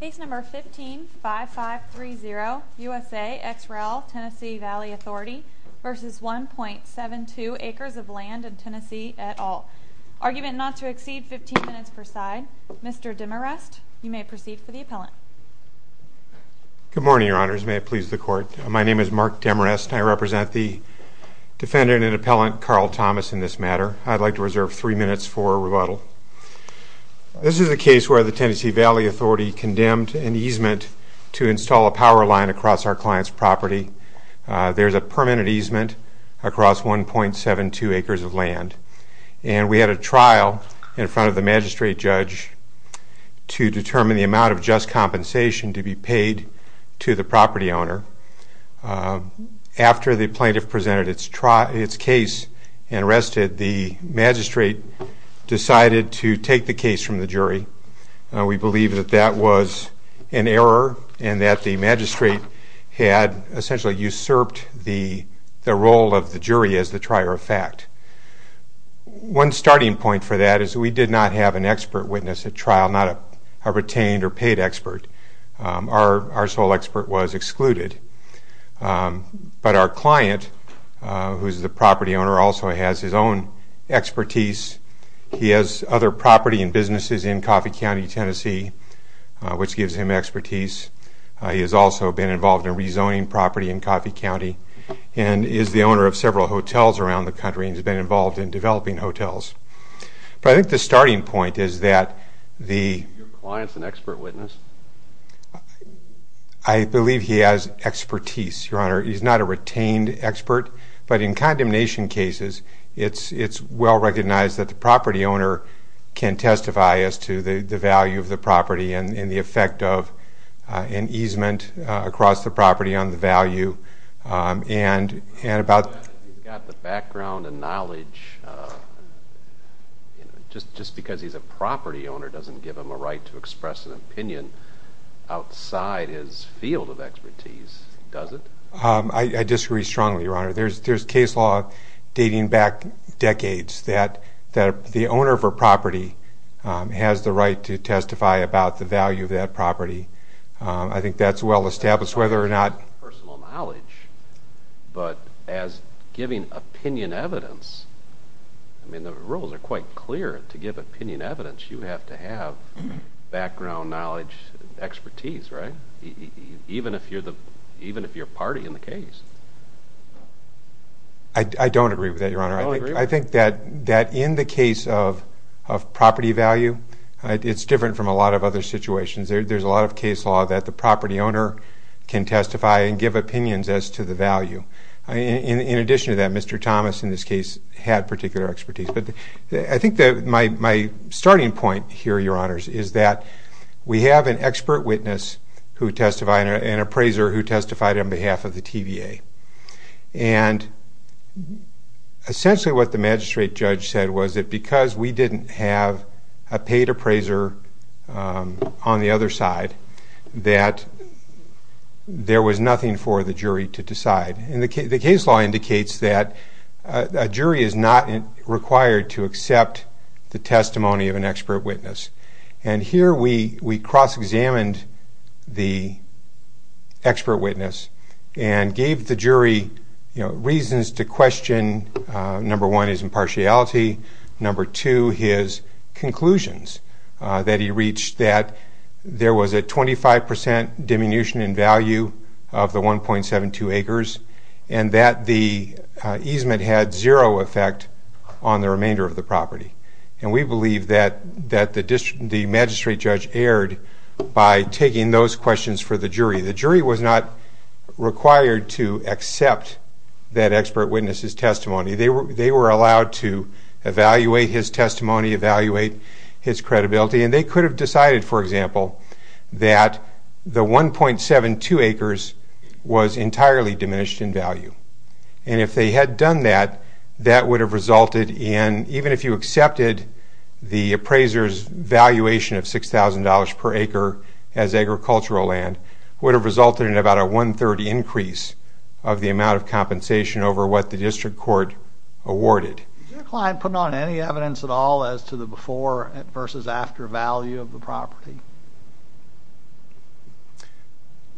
Case number 155530 USA ex rel TN Valley Authority v. 1.72 Acres of Land in TN et al. Argument not to exceed 15 minutes per side. Mr. Demarest, you may proceed for the appellant. Good morning, your honors. May it please the court. My name is Mark Demarest. I represent the defendant and appellant Carl Thomas in this matter. This is the case where the TN Valley Authority condemned an easement to install a power line across our client's property. There's a permanent easement across 1.72 acres of land. And we had a trial in front of the magistrate judge to determine the amount of just compensation to be paid to the property owner. After the plaintiff presented its case and rested, the magistrate decided to take the case from the jury. We believe that that was an error and that the magistrate had essentially usurped the role of the jury as the trier of fact. One starting point for that is we did not have an expert witness at trial, not a retained or paid expert. Our sole expert was excluded. But our client, who's the property owner, also has his own expertise. He has other property and businesses in Coffey County, Tennessee, which gives him expertise. He has also been involved in rezoning property in Coffey County and is the owner of several hotels around the country. He's been involved in developing hotels. But I think the starting point is that the client's an expert witness. I believe he has expertise, Your Honor. He's not a retained expert. But in condemnation cases, it's well recognized that the property owner can testify as to the value of the property and the effect of an easement across the property on the value. You've got the background and knowledge. Just because he's a property owner doesn't give him a right to express an opinion outside his field of expertise, does it? I disagree strongly, Your Honor. There's case law dating back decades that the owner of a property has the right to testify about the value of that property. I think that's well established, whether or not... Personal knowledge, but as giving opinion evidence, I mean, the rules are quite clear. To give opinion evidence, you have to have background, knowledge, expertise, right? Even if you're party in the case. I don't agree with that, Your Honor. I think that in the case of property value, it's different from a lot of other situations. There's a lot of case law that the property owner can testify and give opinions as to the value. In addition to that, Mr. Thomas, in this case, had particular expertise. But I think that my starting point here, Your Honors, is that we have an expert witness who testified, an appraiser who testified on behalf of the TVA. Essentially what the magistrate judge said was that because we didn't have a paid appraiser on the other side, that there was nothing for the jury to decide. The case law indicates that a jury is not required to accept the testimony of an expert witness. And here we cross-examined the expert witness and gave the jury reasons to question, number one, his impartiality, number two, his conclusions that he reached that there was a 25 percent diminution in value of the 1.72 acres and that the easement had zero effect on the remainder of the property. And we believe that the magistrate judge erred by taking those questions for the jury. The jury was not required to accept that expert witness's testimony. They were allowed to evaluate his testimony, evaluate his credibility, and they could have decided, for example, that the 1.72 acres was entirely diminished in value. And if they had done that, that would have resulted in, even if you accepted the appraiser's valuation of $6,000 per acre as agricultural land, would have resulted in about a one-third increase of the amount of compensation over what the district court awarded. Did your client put on any evidence at all as to the before versus after value of the property?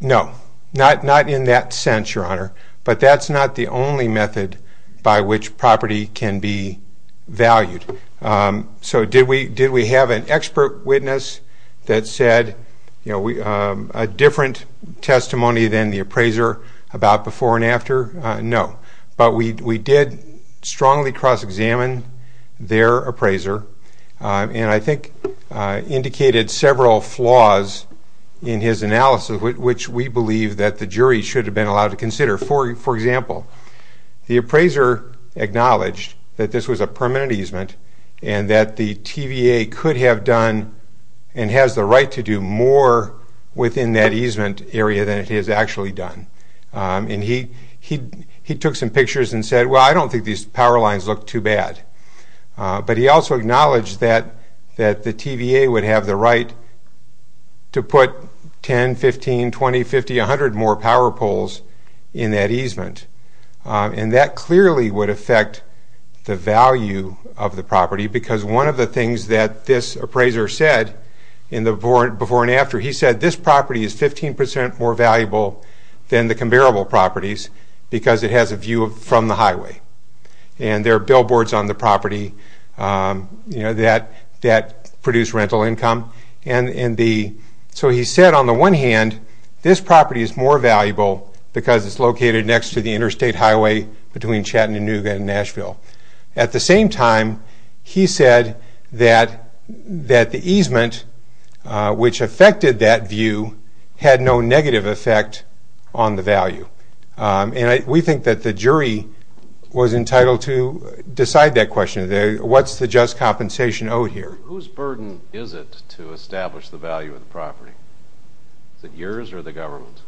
No, not in that sense, Your Honor, but that's not the only method by which property can be valued. So did we have an expert witness that said a different testimony than the appraiser about before and after? No, but we did strongly cross-examine their appraiser and I think indicated several flaws in his analysis, which we believe that the jury should have been allowed to consider. For example, the appraiser acknowledged that this was a permanent easement and that the TVA could have done and has the right to do more within that easement area than it has actually done. And he took some pictures and said, well, I don't think these power lines look too bad. But he also acknowledged that the TVA would have the right to put 10, 15, 20, 50, 100 more power poles in that easement. And that clearly would affect the value of the property, because one of the things that this appraiser said in the before and after, he said this property is 15% more valuable than the comparable properties because it has a view from the highway. And there are billboards on the property that produce rental income. So he said on the one hand, this property is more valuable because it's located next to the interstate highway between Chattanooga and Nashville. At the same time, he said that the easement, which affected that view, had no negative effect on the value. And we think that the jury was entitled to decide that question. What's the just compensation owed here? Whose burden is it to establish the value of the property? Is it yours or the government's?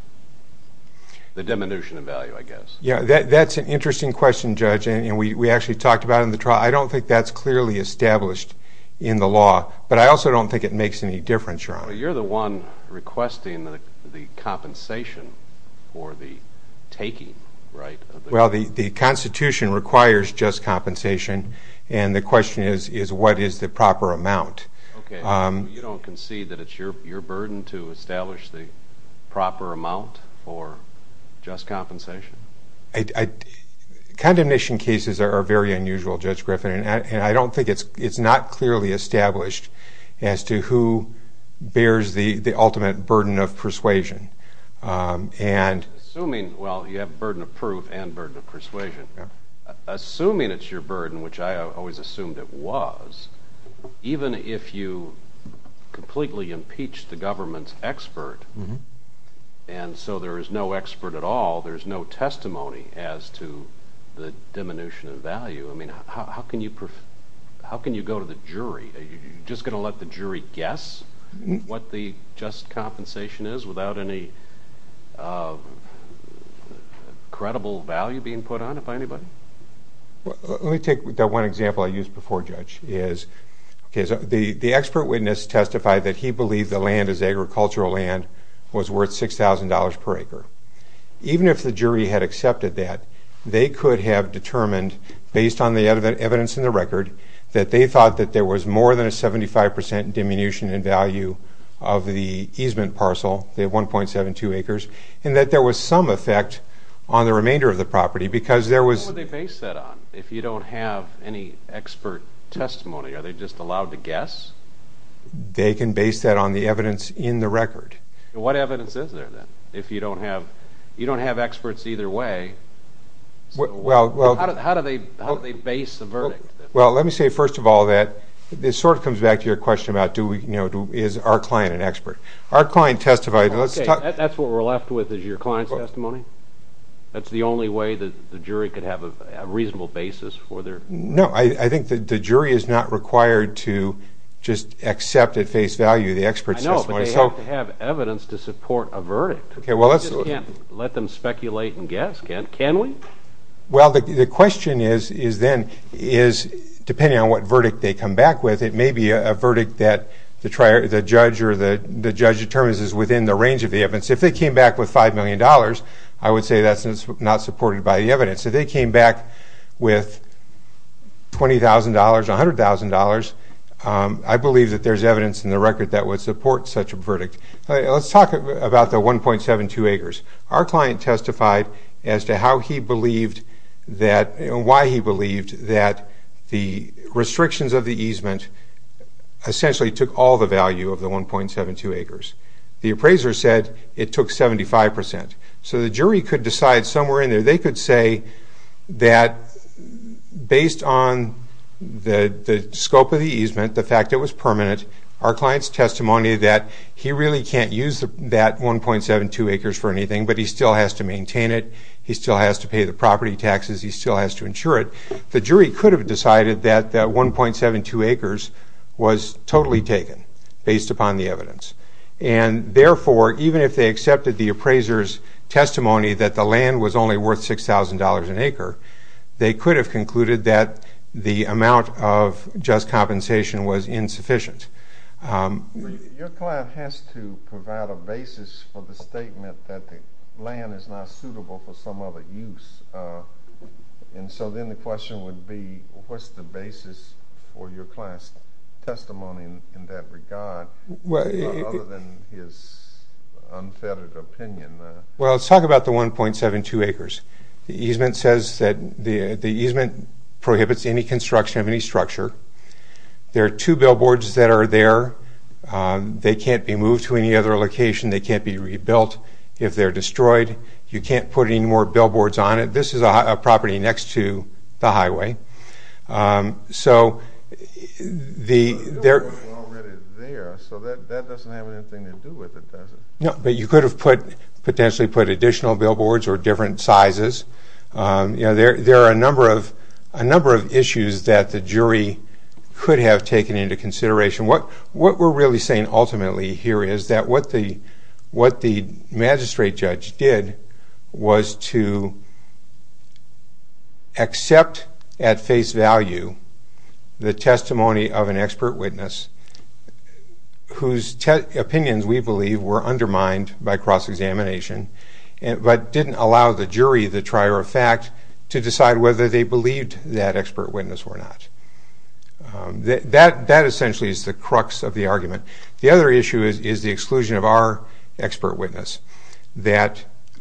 The diminution of value, I guess. Yeah, that's an interesting question, Judge. And we actually talked about it in the trial. I don't think that's clearly established in the law. But I also don't think it makes any difference, Ron. Well, you're the one requesting the compensation for the taking, right? Well, the Constitution requires just compensation. And the question is, what is the proper amount? Okay, so you don't concede that it's your burden to establish the proper amount for just compensation? Condemnation cases are very unusual, Judge Griffin. And I don't think it's not clearly established as to who bears the ultimate burden of persuasion. Assuming, well, you have burden of proof and burden of persuasion. Assuming it's your burden, which I always assumed it was, even if you completely impeach the government's expert, and so there is no expert at all, there is no testimony as to the diminution of value, I mean, how can you go to the jury? Are you just going to let the jury guess what the just compensation is without any credible value being put on it by anybody? Let me take that one example I used before, Judge. The expert witness testified that he believed the land as agricultural land was worth $6,000 per acre. Even if the jury had accepted that, they could have determined, based on the evidence in the record, that they thought that there was more than a 75% diminution in value of the easement parcel, the 1.72 acres, and that there was some effect on the remainder of the property because there was... What would they base that on if you don't have any expert testimony? Are they just allowed to guess? They can base that on the evidence in the record. What evidence is there, then, if you don't have experts either way? How do they base the verdict? Well, let me say, first of all, that this sort of comes back to your question about is our client an expert. Our client testified. That's what we're left with is your client's testimony? That's the only way the jury could have a reasonable basis for their... No, I think the jury is not required to just accept at face value the expert's testimony. They have to have evidence to support a verdict. You just can't let them speculate and guess, can we? Well, the question is, then, depending on what verdict they come back with, it may be a verdict that the judge determines is within the range of the evidence. If they came back with $5 million, I would say that's not supported by the evidence. If they came back with $20,000, $100,000, I believe that there's evidence in the record that would support such a verdict. Let's talk about the 1.72 acres. Our client testified as to how he believed that and why he believed that the restrictions of the easement essentially took all the value of the 1.72 acres. The appraiser said it took 75%. So the jury could decide somewhere in there. They could say that based on the scope of the easement, the fact it was permanent, our client's testimony that he really can't use that 1.72 acres for anything, but he still has to maintain it, he still has to pay the property taxes, he still has to insure it. The jury could have decided that that 1.72 acres was totally taken based upon the evidence. Therefore, even if they accepted the appraiser's testimony that the land was only worth $6,000 an acre, they could have concluded that the amount of just compensation was insufficient. Your client has to provide a basis for the statement that the land is not suitable for some other use. So then the question would be, what's the basis for your client's testimony in that regard? Other than his unfettered opinion. Well, let's talk about the 1.72 acres. The easement prohibits any construction of any structure. There are two billboards that are there. They can't be moved to any other location. They can't be rebuilt if they're destroyed. You can't put any more billboards on it. This is a property next to the highway. The billboards were already there, so that doesn't have anything to do with it, does it? No, but you could have potentially put additional billboards or different sizes. There are a number of issues that the jury could have taken into consideration. What we're really saying ultimately here is that what the magistrate judge did was to accept at face value the testimony of an expert witness whose opinions we believe were undermined by cross-examination but didn't allow the jury, the trier of fact, to decide whether they believed that expert witness or not. That essentially is the crux of the argument. The other issue is the exclusion of our expert witness.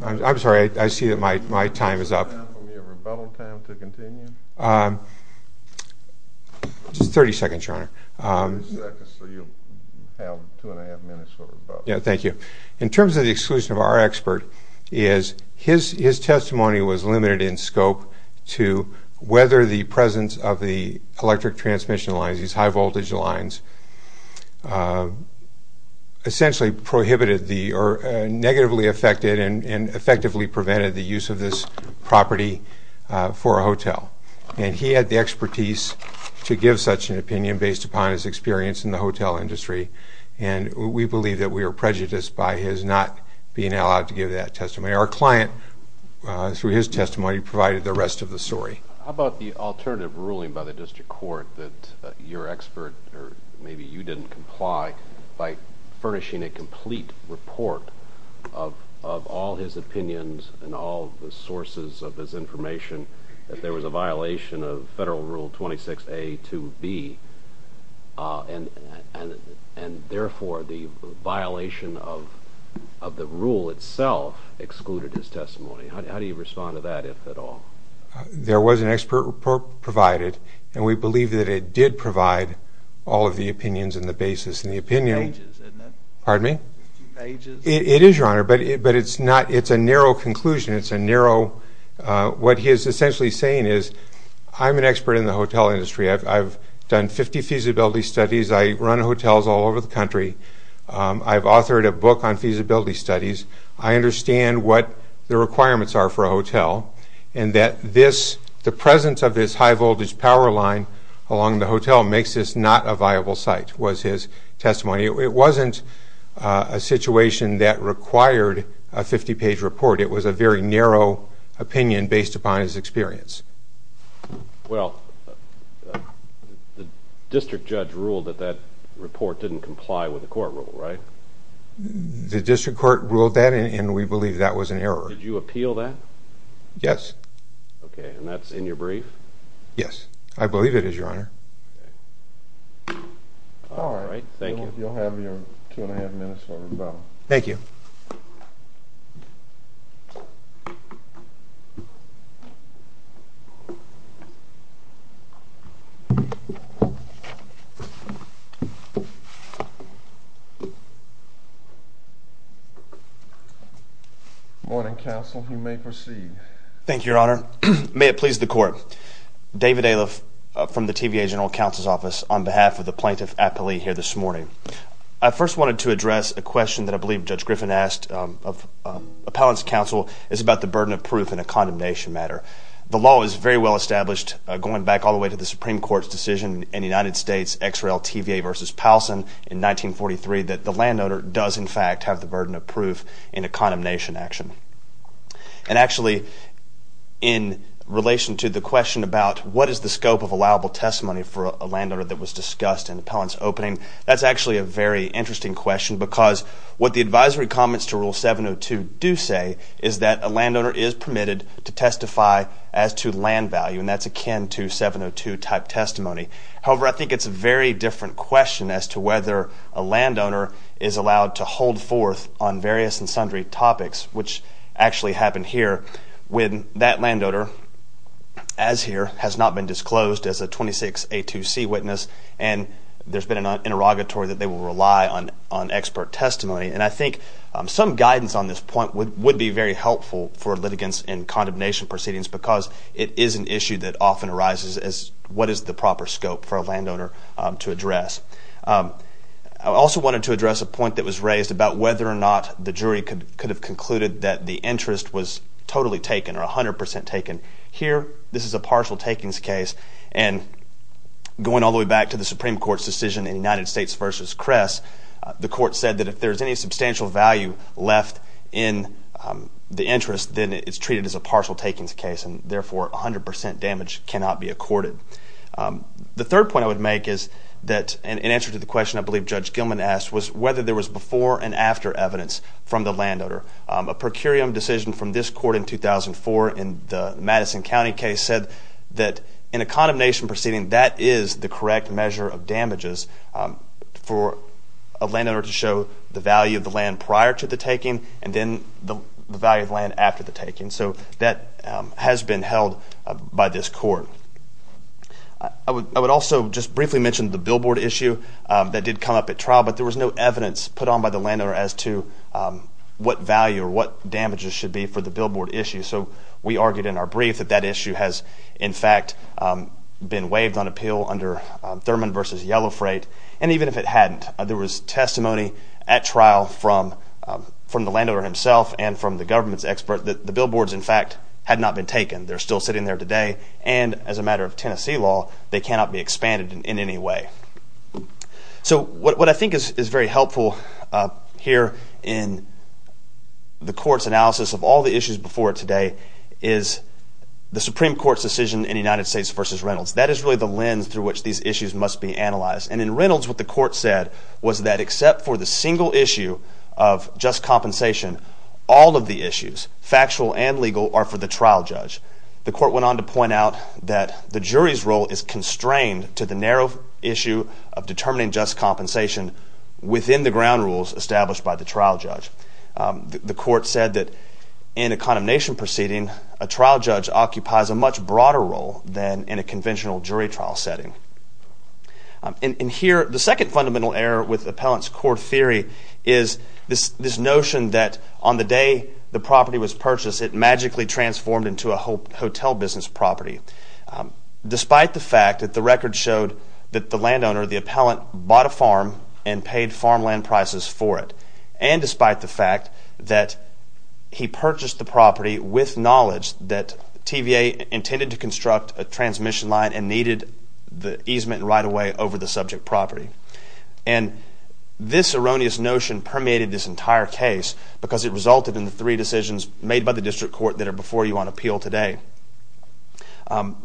I'm sorry, I see that my time is up. Can you give me a rebuttal time to continue? Just 30 seconds, Your Honor. 30 seconds, so you'll have two and a half minutes for rebuttal. Thank you. whether the presence of the electric transmission lines, these high-voltage lines, essentially prohibited or negatively affected and effectively prevented the use of this property for a hotel. And he had the expertise to give such an opinion based upon his experience in the hotel industry, and we believe that we are prejudiced by his not being allowed to give that testimony. Our client, through his testimony, provided the rest of the story. How about the alternative ruling by the district court that your expert, or maybe you didn't comply by furnishing a complete report of all his opinions and all the sources of his information that there was a violation of Federal Rule 26A to B, and therefore the violation of the rule itself excluded his testimony? How do you respond to that, if at all? There was an expert report provided, and we believe that it did provide all of the opinions and the basis. It's two pages, isn't it? Pardon me? It's two pages. It is, Your Honor, but it's a narrow conclusion. What he is essentially saying is, I'm an expert in the hotel industry. I've done 50 feasibility studies. I run hotels all over the country. I've authored a book on feasibility studies. I understand what the requirements are for a hotel, and that the presence of this high-voltage power line along the hotel makes this not a viable site, was his testimony. It wasn't a situation that required a 50-page report. It was a very narrow opinion based upon his experience. Well, the district judge ruled that that report didn't comply with the court rule, right? The district court ruled that, and we believe that was an error. Did you appeal that? Yes. Okay, and that's in your brief? Yes, I believe it is, Your Honor. Thank you. You'll have your two-and-a-half minutes for rebuttal. Thank you. Thank you. Morning, counsel. You may proceed. Thank you, Your Honor. May it please the court. David Aliff from the TVA General Counsel's Office on behalf of the plaintiff appellee here this morning. I first wanted to address a question that I believe Judge Griffin asked of appellant's counsel. It's about the burden of proof in a condemnation matter. The law is very well established going back all the way to the Supreme Court's decision in the United States, X. Rel. TVA v. Powelson in 1943, that the landowner does, in fact, have the burden of proof in a condemnation action. And actually, in relation to the question about what is the scope of allowable testimony for a landowner that was discussed in appellant's opening, that's actually a very interesting question because what the advisory comments to Rule 702 do say is that a landowner is permitted to testify as to land value, and that's akin to 702-type testimony. However, I think it's a very different question as to whether a landowner is allowed to hold forth on various and sundry topics, which actually happened here when that landowner, as here, has not been disclosed as a 26A2C witness, and there's been an interrogatory that they will rely on expert testimony. And I think some guidance on this point would be very helpful for litigants in condemnation proceedings because it is an issue that often arises as what is the proper scope for a landowner to address. I also wanted to address a point that was raised about whether or not the jury could have concluded that the interest was totally taken or 100% taken. Here, this is a partial takings case, and going all the way back to the Supreme Court's decision in United States v. Kress, the court said that if there's any substantial value left in the interest, then it's treated as a partial takings case, and therefore 100% damage cannot be accorded. The third point I would make is that, in answer to the question I believe Judge Gilman asked, was whether there was before and after evidence from the landowner. A per curiam decision from this court in 2004 in the Madison County case said that, in a condemnation proceeding, that is the correct measure of damages for a landowner to show the value of the land prior to the taking and then the value of land after the taking. So that has been held by this court. I would also just briefly mention the billboard issue that did come up at trial, but there was no evidence put on by the landowner as to what value or what damages should be for the billboard issue. So we argued in our brief that that issue has, in fact, been waived on appeal under Thurman v. Yellow Freight, and even if it hadn't, there was testimony at trial from the landowner himself and from the government's expert that the billboards, in fact, had not been taken. They're still sitting there today, and as a matter of Tennessee law, they cannot be expanded in any way. So what I think is very helpful here in the court's analysis of all the issues before today is the Supreme Court's decision in the United States v. Reynolds. That is really the lens through which these issues must be analyzed, and in Reynolds what the court said was that except for the single issue of just compensation, all of the issues, factual and legal, are for the trial judge. The court went on to point out that the jury's role is constrained to the narrow issue of determining just compensation within the ground rules established by the trial judge. The court said that in a condemnation proceeding, a trial judge occupies a much broader role than in a conventional jury trial setting. And here, the second fundamental error with appellant's court theory is this notion that on the day the property was purchased, it magically transformed into a hotel business property, despite the fact that the record showed that the landowner, the appellant, bought a farm and paid farmland prices for it, and despite the fact that he purchased the property with knowledge that TVA intended to construct a transmission line and needed the easement right away over the subject property. And this erroneous notion permeated this entire case because it resulted in the three decisions made by the district court that are before you on appeal today.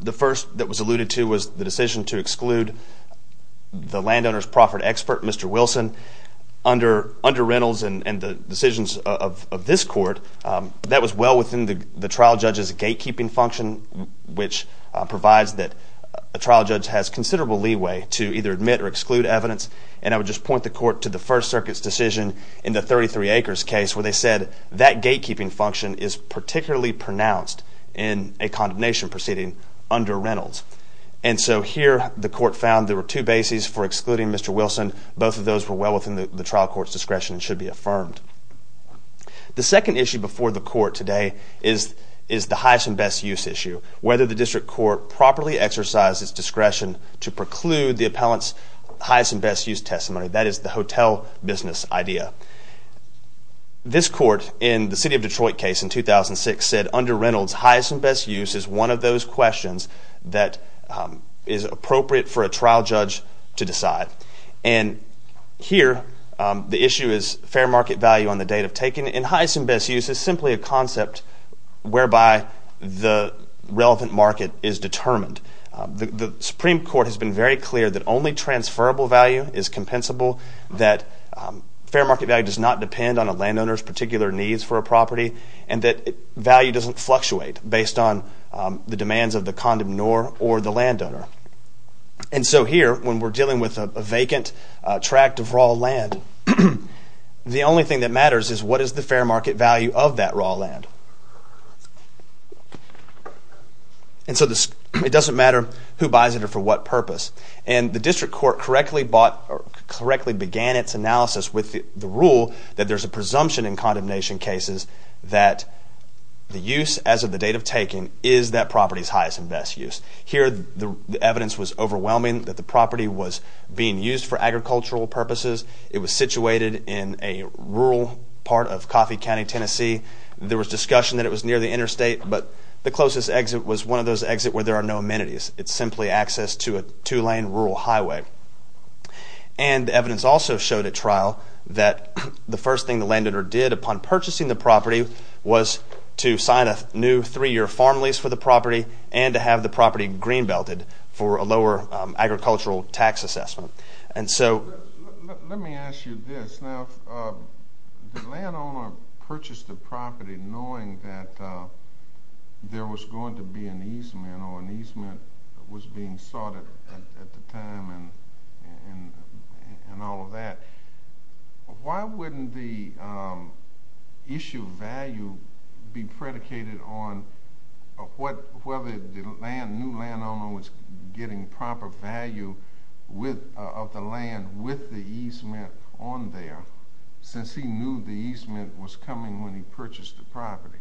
The first that was alluded to was the decision to exclude the landowner's proffered expert, Mr. Wilson. Under Reynolds and the decisions of this court, that was well within the trial judge's gatekeeping function, which provides that a trial judge has considerable leeway to either admit or exclude evidence. And I would just point the court to the First Circuit's decision in the 33 Acres case, where they said that gatekeeping function is particularly pronounced in a condemnation proceeding under Reynolds. And so here, the court found there were two bases for excluding Mr. Wilson. Both of those were well within the trial court's discretion and should be affirmed. The second issue before the court today is the highest and best use issue. Whether the district court properly exercised its discretion to preclude the appellant's highest and best use testimony. That is the hotel business idea. This court in the City of Detroit case in 2006 said under Reynolds, highest and best use is one of those questions that is appropriate for a trial judge to decide. And here, the issue is fair market value on the date of taking. And highest and best use is simply a concept whereby the relevant market is determined. The Supreme Court has been very clear that only transferable value is compensable, that fair market value does not depend on a landowner's particular needs for a property, and that value doesn't fluctuate based on the demands of the condom nor or the landowner. And so here, when we're dealing with a vacant tract of raw land, the only thing that matters is what is the fair market value of that raw land. And so it doesn't matter who buys it or for what purpose. And the district court correctly began its analysis with the rule that there's a presumption in condemnation cases that the use as of the date of taking is that property's highest and best use. Here, the evidence was overwhelming that the property was being used for agricultural purposes. It was situated in a rural part of Coffey County, Tennessee. There was discussion that it was near the interstate, but the closest exit was one of those exits where there are no amenities. It's simply access to a two-lane rural highway. And the evidence also showed at trial that the first thing the landowner did upon purchasing the property was to sign a new three-year farm lease for the property and to have the property green-belted for a lower agricultural tax assessment. Let me ask you this. Now, the landowner purchased the property knowing that there was going to be an easement or an easement was being sorted at the time and all of that. Why wouldn't the issue of value be predicated on whether the new landowner was getting proper value of the land with the easement on there since he knew the easement was coming when he purchased the property?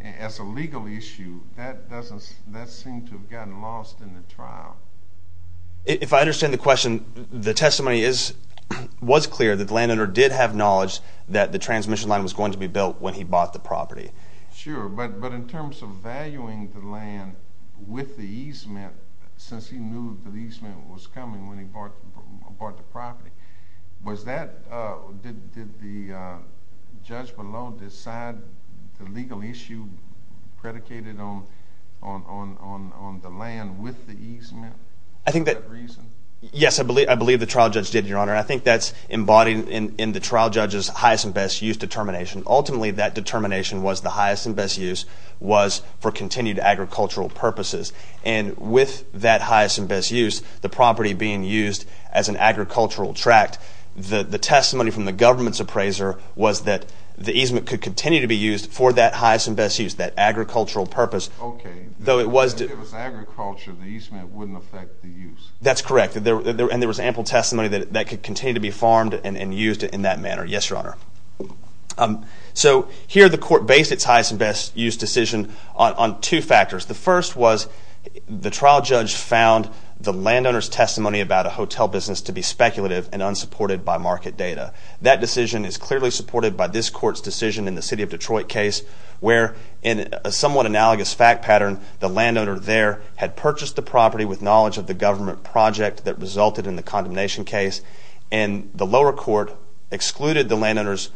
As a legal issue, that doesn't seem to have gotten lost in the trial. If I understand the question, the testimony was clear that the landowner did have knowledge that the transmission line was going to be built when he bought the property. Sure, but in terms of valuing the land with the easement since he knew the easement was coming when he bought the property, did the judge below decide the legal issue predicated on the land with the easement? Yes, I believe the trial judge did, Your Honor. I think that's embodied in the trial judge's highest and best use determination. Ultimately, that determination was the highest and best use was for continued agricultural purposes. And with that highest and best use, the property being used as an agricultural tract, the testimony from the government's appraiser was that the easement could continue to be used for that highest and best use, that agricultural purpose. Okay, if it was agriculture, the easement wouldn't affect the use. That's correct, and there was ample testimony that it could continue to be farmed and used in that manner. Yes, Your Honor. So here the court based its highest and best use decision on two factors. The first was the trial judge found the landowner's testimony about a hotel business to be speculative and unsupported by market data. That decision is clearly supported by this court's decision in the city of Detroit case where in a somewhat analogous fact pattern, the landowner there had purchased the property with knowledge of the government project that resulted in the condemnation case, and the lower court excluded the landowner's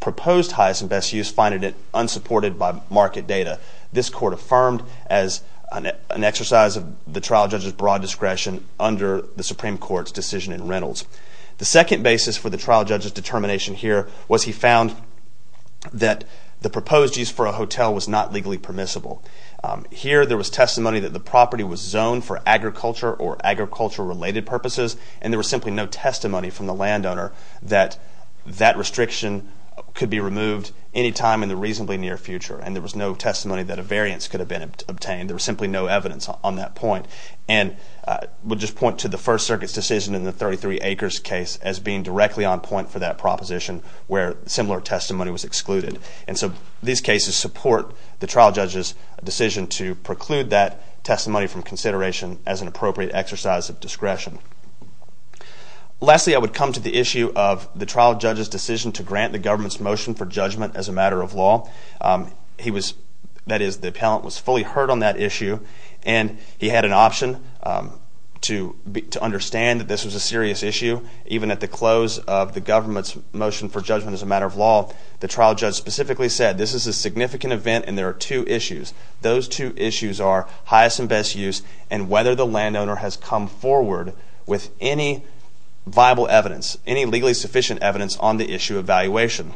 proposed highest and best use, finding it unsupported by market data. This court affirmed as an exercise of the trial judge's broad discretion under the Supreme Court's decision in Reynolds. The second basis for the trial judge's determination here was he found that the proposed use for a hotel was not legally permissible. Here there was testimony that the property was zoned for agriculture or agriculture-related purposes, and there was simply no testimony from the landowner that that restriction could be removed any time in the reasonably near future, and there was no testimony that a variance could have been obtained. There was simply no evidence on that point. And we'll just point to the First Circuit's decision in the 33 Acres case as being directly on point for that proposition where similar testimony was excluded. And so these cases support the trial judge's decision to preclude that testimony from consideration as an appropriate exercise of discretion. Lastly, I would come to the issue of the trial judge's decision to grant the government's motion for judgment as a matter of law. That is, the appellant was fully heard on that issue, and he had an option to understand that this was a serious issue. Even at the close of the government's motion for judgment as a matter of law, the trial judge specifically said this is a significant event and there are two issues. Those two issues are highest and best use and whether the landowner has come forward with any viable evidence, any legally sufficient evidence on the issue of valuation.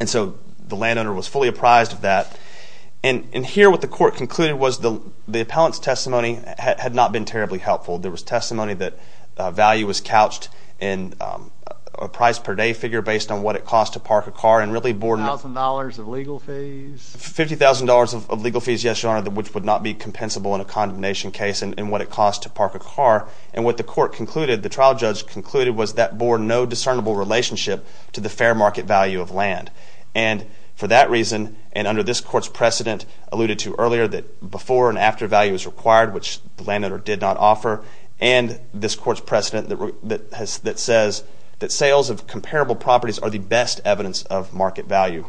And so the landowner was fully apprised of that. And here what the court concluded was the appellant's testimony had not been terribly helpful. There was testimony that value was couched in a price-per-day figure based on what it cost to park a car $50,000 of legal fees? $50,000 of legal fees, yes, Your Honor, which would not be compensable in a condemnation case and what it cost to park a car. And what the court concluded, the trial judge concluded, was that bore no discernible relationship to the fair market value of land. And for that reason, and under this court's precedent alluded to earlier, that before and after value is required, which the landowner did not offer, and this court's precedent that says that sales of comparable properties are the best evidence of market value.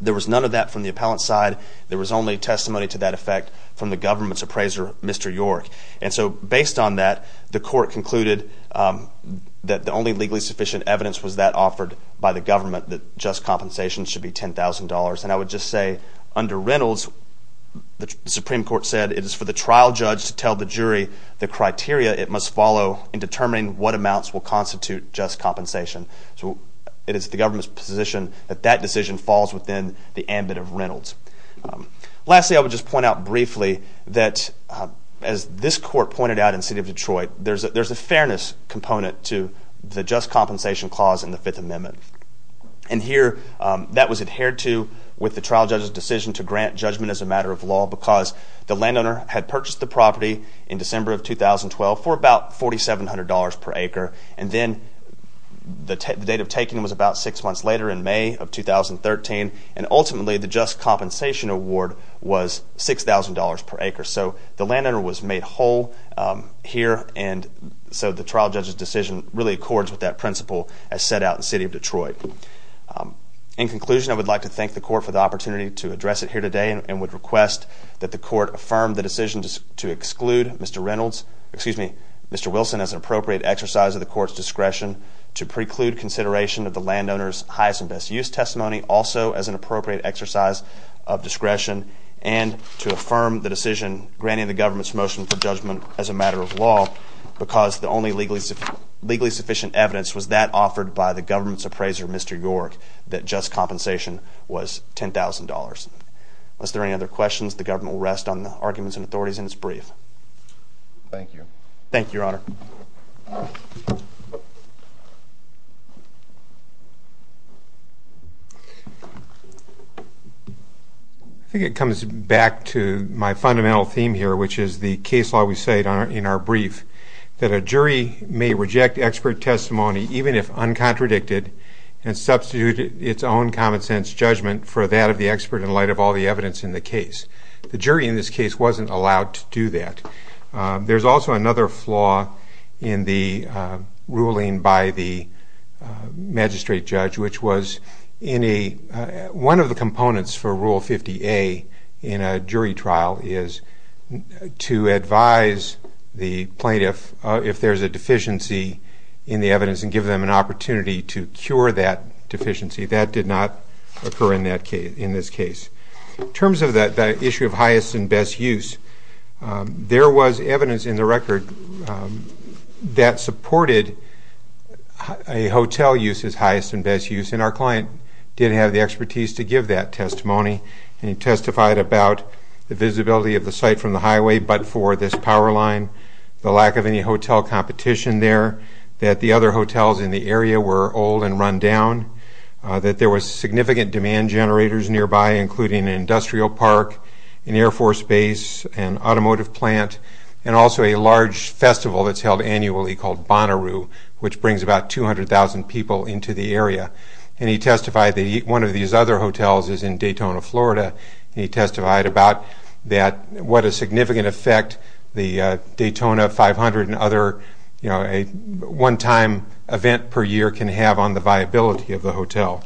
There was none of that from the appellant's side. There was only testimony to that effect from the government's appraiser, Mr. York. And so based on that, the court concluded that the only legally sufficient evidence was that offered by the government, that just compensation should be $10,000. And I would just say under Reynolds, the Supreme Court said it is for the trial judge to tell the jury the criteria it must follow in determining what amounts will constitute just compensation. So it is the government's position that that decision falls within the ambit of Reynolds. Lastly, I would just point out briefly that as this court pointed out in the city of Detroit, there's a fairness component to the just compensation clause in the Fifth Amendment. And here that was adhered to with the trial judge's decision to grant judgment as a matter of law because the landowner had purchased the property in December of 2012 for about $4,700 per acre, and then the date of taking was about six months later in May of 2013, and ultimately the just compensation award was $6,000 per acre. So the landowner was made whole here, and so the trial judge's decision really accords with that principle as set out in the city of Detroit. In conclusion, I would like to thank the court for the opportunity to address it here today and would request that the court affirm the decision to exclude Mr. Wilson as an appropriate exercise of the court's discretion, to preclude consideration of the landowner's highest and best use testimony also as an appropriate exercise of discretion, and to affirm the decision granting the government's motion for judgment as a matter of law because the only legally sufficient evidence was that offered by the government's appraiser, Mr. York, that just compensation was $10,000. Unless there are any other questions, the government will rest on the arguments and authorities in its brief. Thank you. Thank you, Your Honor. I think it comes back to my fundamental theme here, which is the case law we cite in our brief, that a jury may reject expert testimony even if uncontradicted and substitute its own common sense judgment for that of the expert in light of all the evidence in the case. The jury in this case wasn't allowed to do that. There's also another flaw in the ruling by the magistrate judge, which was one of the components for Rule 50A in a jury trial is to advise the plaintiff if there's a deficiency in the evidence and give them an opportunity to cure that deficiency. That did not occur in this case. In terms of the issue of highest and best use, there was evidence in the record that supported a hotel use as highest and best use, and our client did have the expertise to give that testimony, and he testified about the visibility of the site from the highway but for this power line, the lack of any hotel competition there, that the other hotels in the area were old and run down, that there was significant demand generators nearby including an industrial park, an Air Force base, an automotive plant, and also a large festival that's held annually called Bonnaroo, which brings about 200,000 people into the area. And he testified that one of these other hotels is in Daytona, Florida, and he testified about what a significant effect the Daytona 500 and other one-time event per year can have on the viability of the hotel.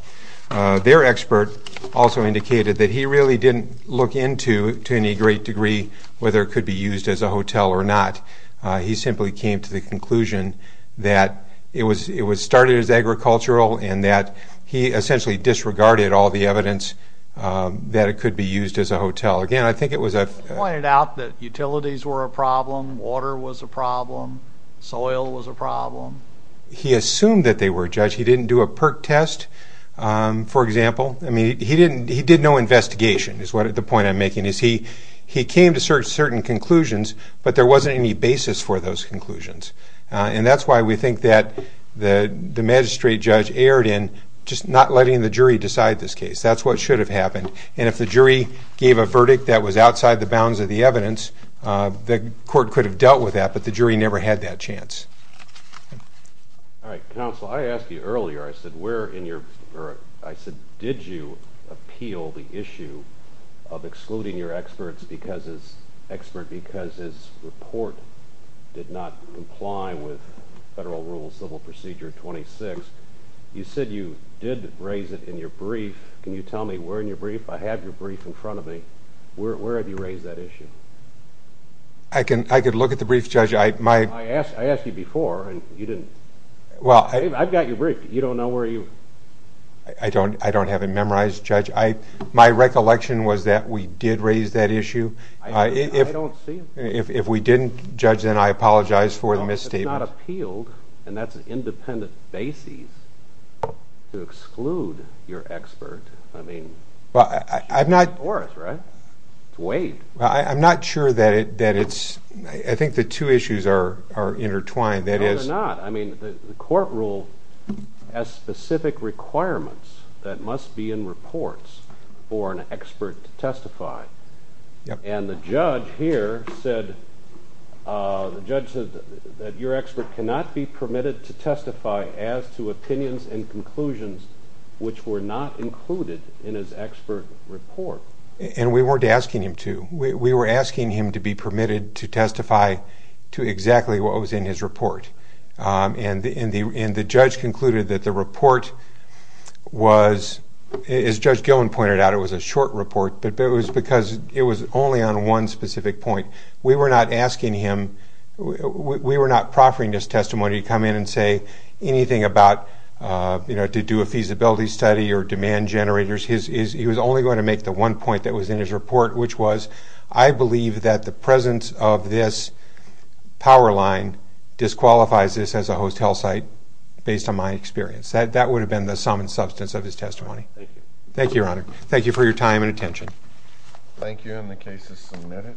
Their expert also indicated that he really didn't look into, to any great degree, whether it could be used as a hotel or not. He simply came to the conclusion that it was started as agricultural and that he essentially disregarded all the evidence that it could be used as a hotel. Again, I think it was a... He pointed out that utilities were a problem, water was a problem, soil was a problem. He assumed that they were, Judge. He didn't do a PERC test, for example. I mean, he did no investigation is the point I'm making. He came to certain conclusions, but there wasn't any basis for those conclusions. And that's why we think that the magistrate judge erred in just not letting the jury decide this case. That's what should have happened. And if the jury gave a verdict that was outside the bounds of the evidence, the court could have dealt with that, but the jury never had that chance. All right. Counsel, I asked you earlier, I said, did you appeal the issue of excluding your expert because his report did not comply with Federal Rule Civil Procedure 26? You said you did raise it in your brief. Can you tell me where in your brief? I have your brief in front of me. Where have you raised that issue? I can look at the brief, Judge. I asked you before, and you didn't. I've got your brief. You don't know where you... I don't have it memorized, Judge. My recollection was that we did raise that issue. I don't see it. If we didn't, Judge, then I apologize for the misstatement. It's not appealed, and that's an independent basis to exclude your expert. I mean, it's yours, right? It's waived. I'm not sure that it's... I think the two issues are intertwined. No, they're not. I mean, the court rule has specific requirements that must be in reports for an expert to testify. And the judge here said that your expert cannot be permitted to testify as to opinions and conclusions which were not included in his expert report. And we weren't asking him to. We were asking him to be permitted to testify to exactly what was in his report. And the judge concluded that the report was, as Judge Gillen pointed out, it was a short report, but it was because it was only on one specific point. We were not asking him, we were not proffering his testimony to come in and say anything about, you know, to do a feasibility study or demand generators. He was only going to make the one point that was in his report, which was, I believe that the presence of this power line disqualifies this as a hostile site based on my experience. That would have been the sum and substance of his testimony. Thank you. Thank you, Your Honor. Thank you for your time and attention. Thank you. And the case is submitted.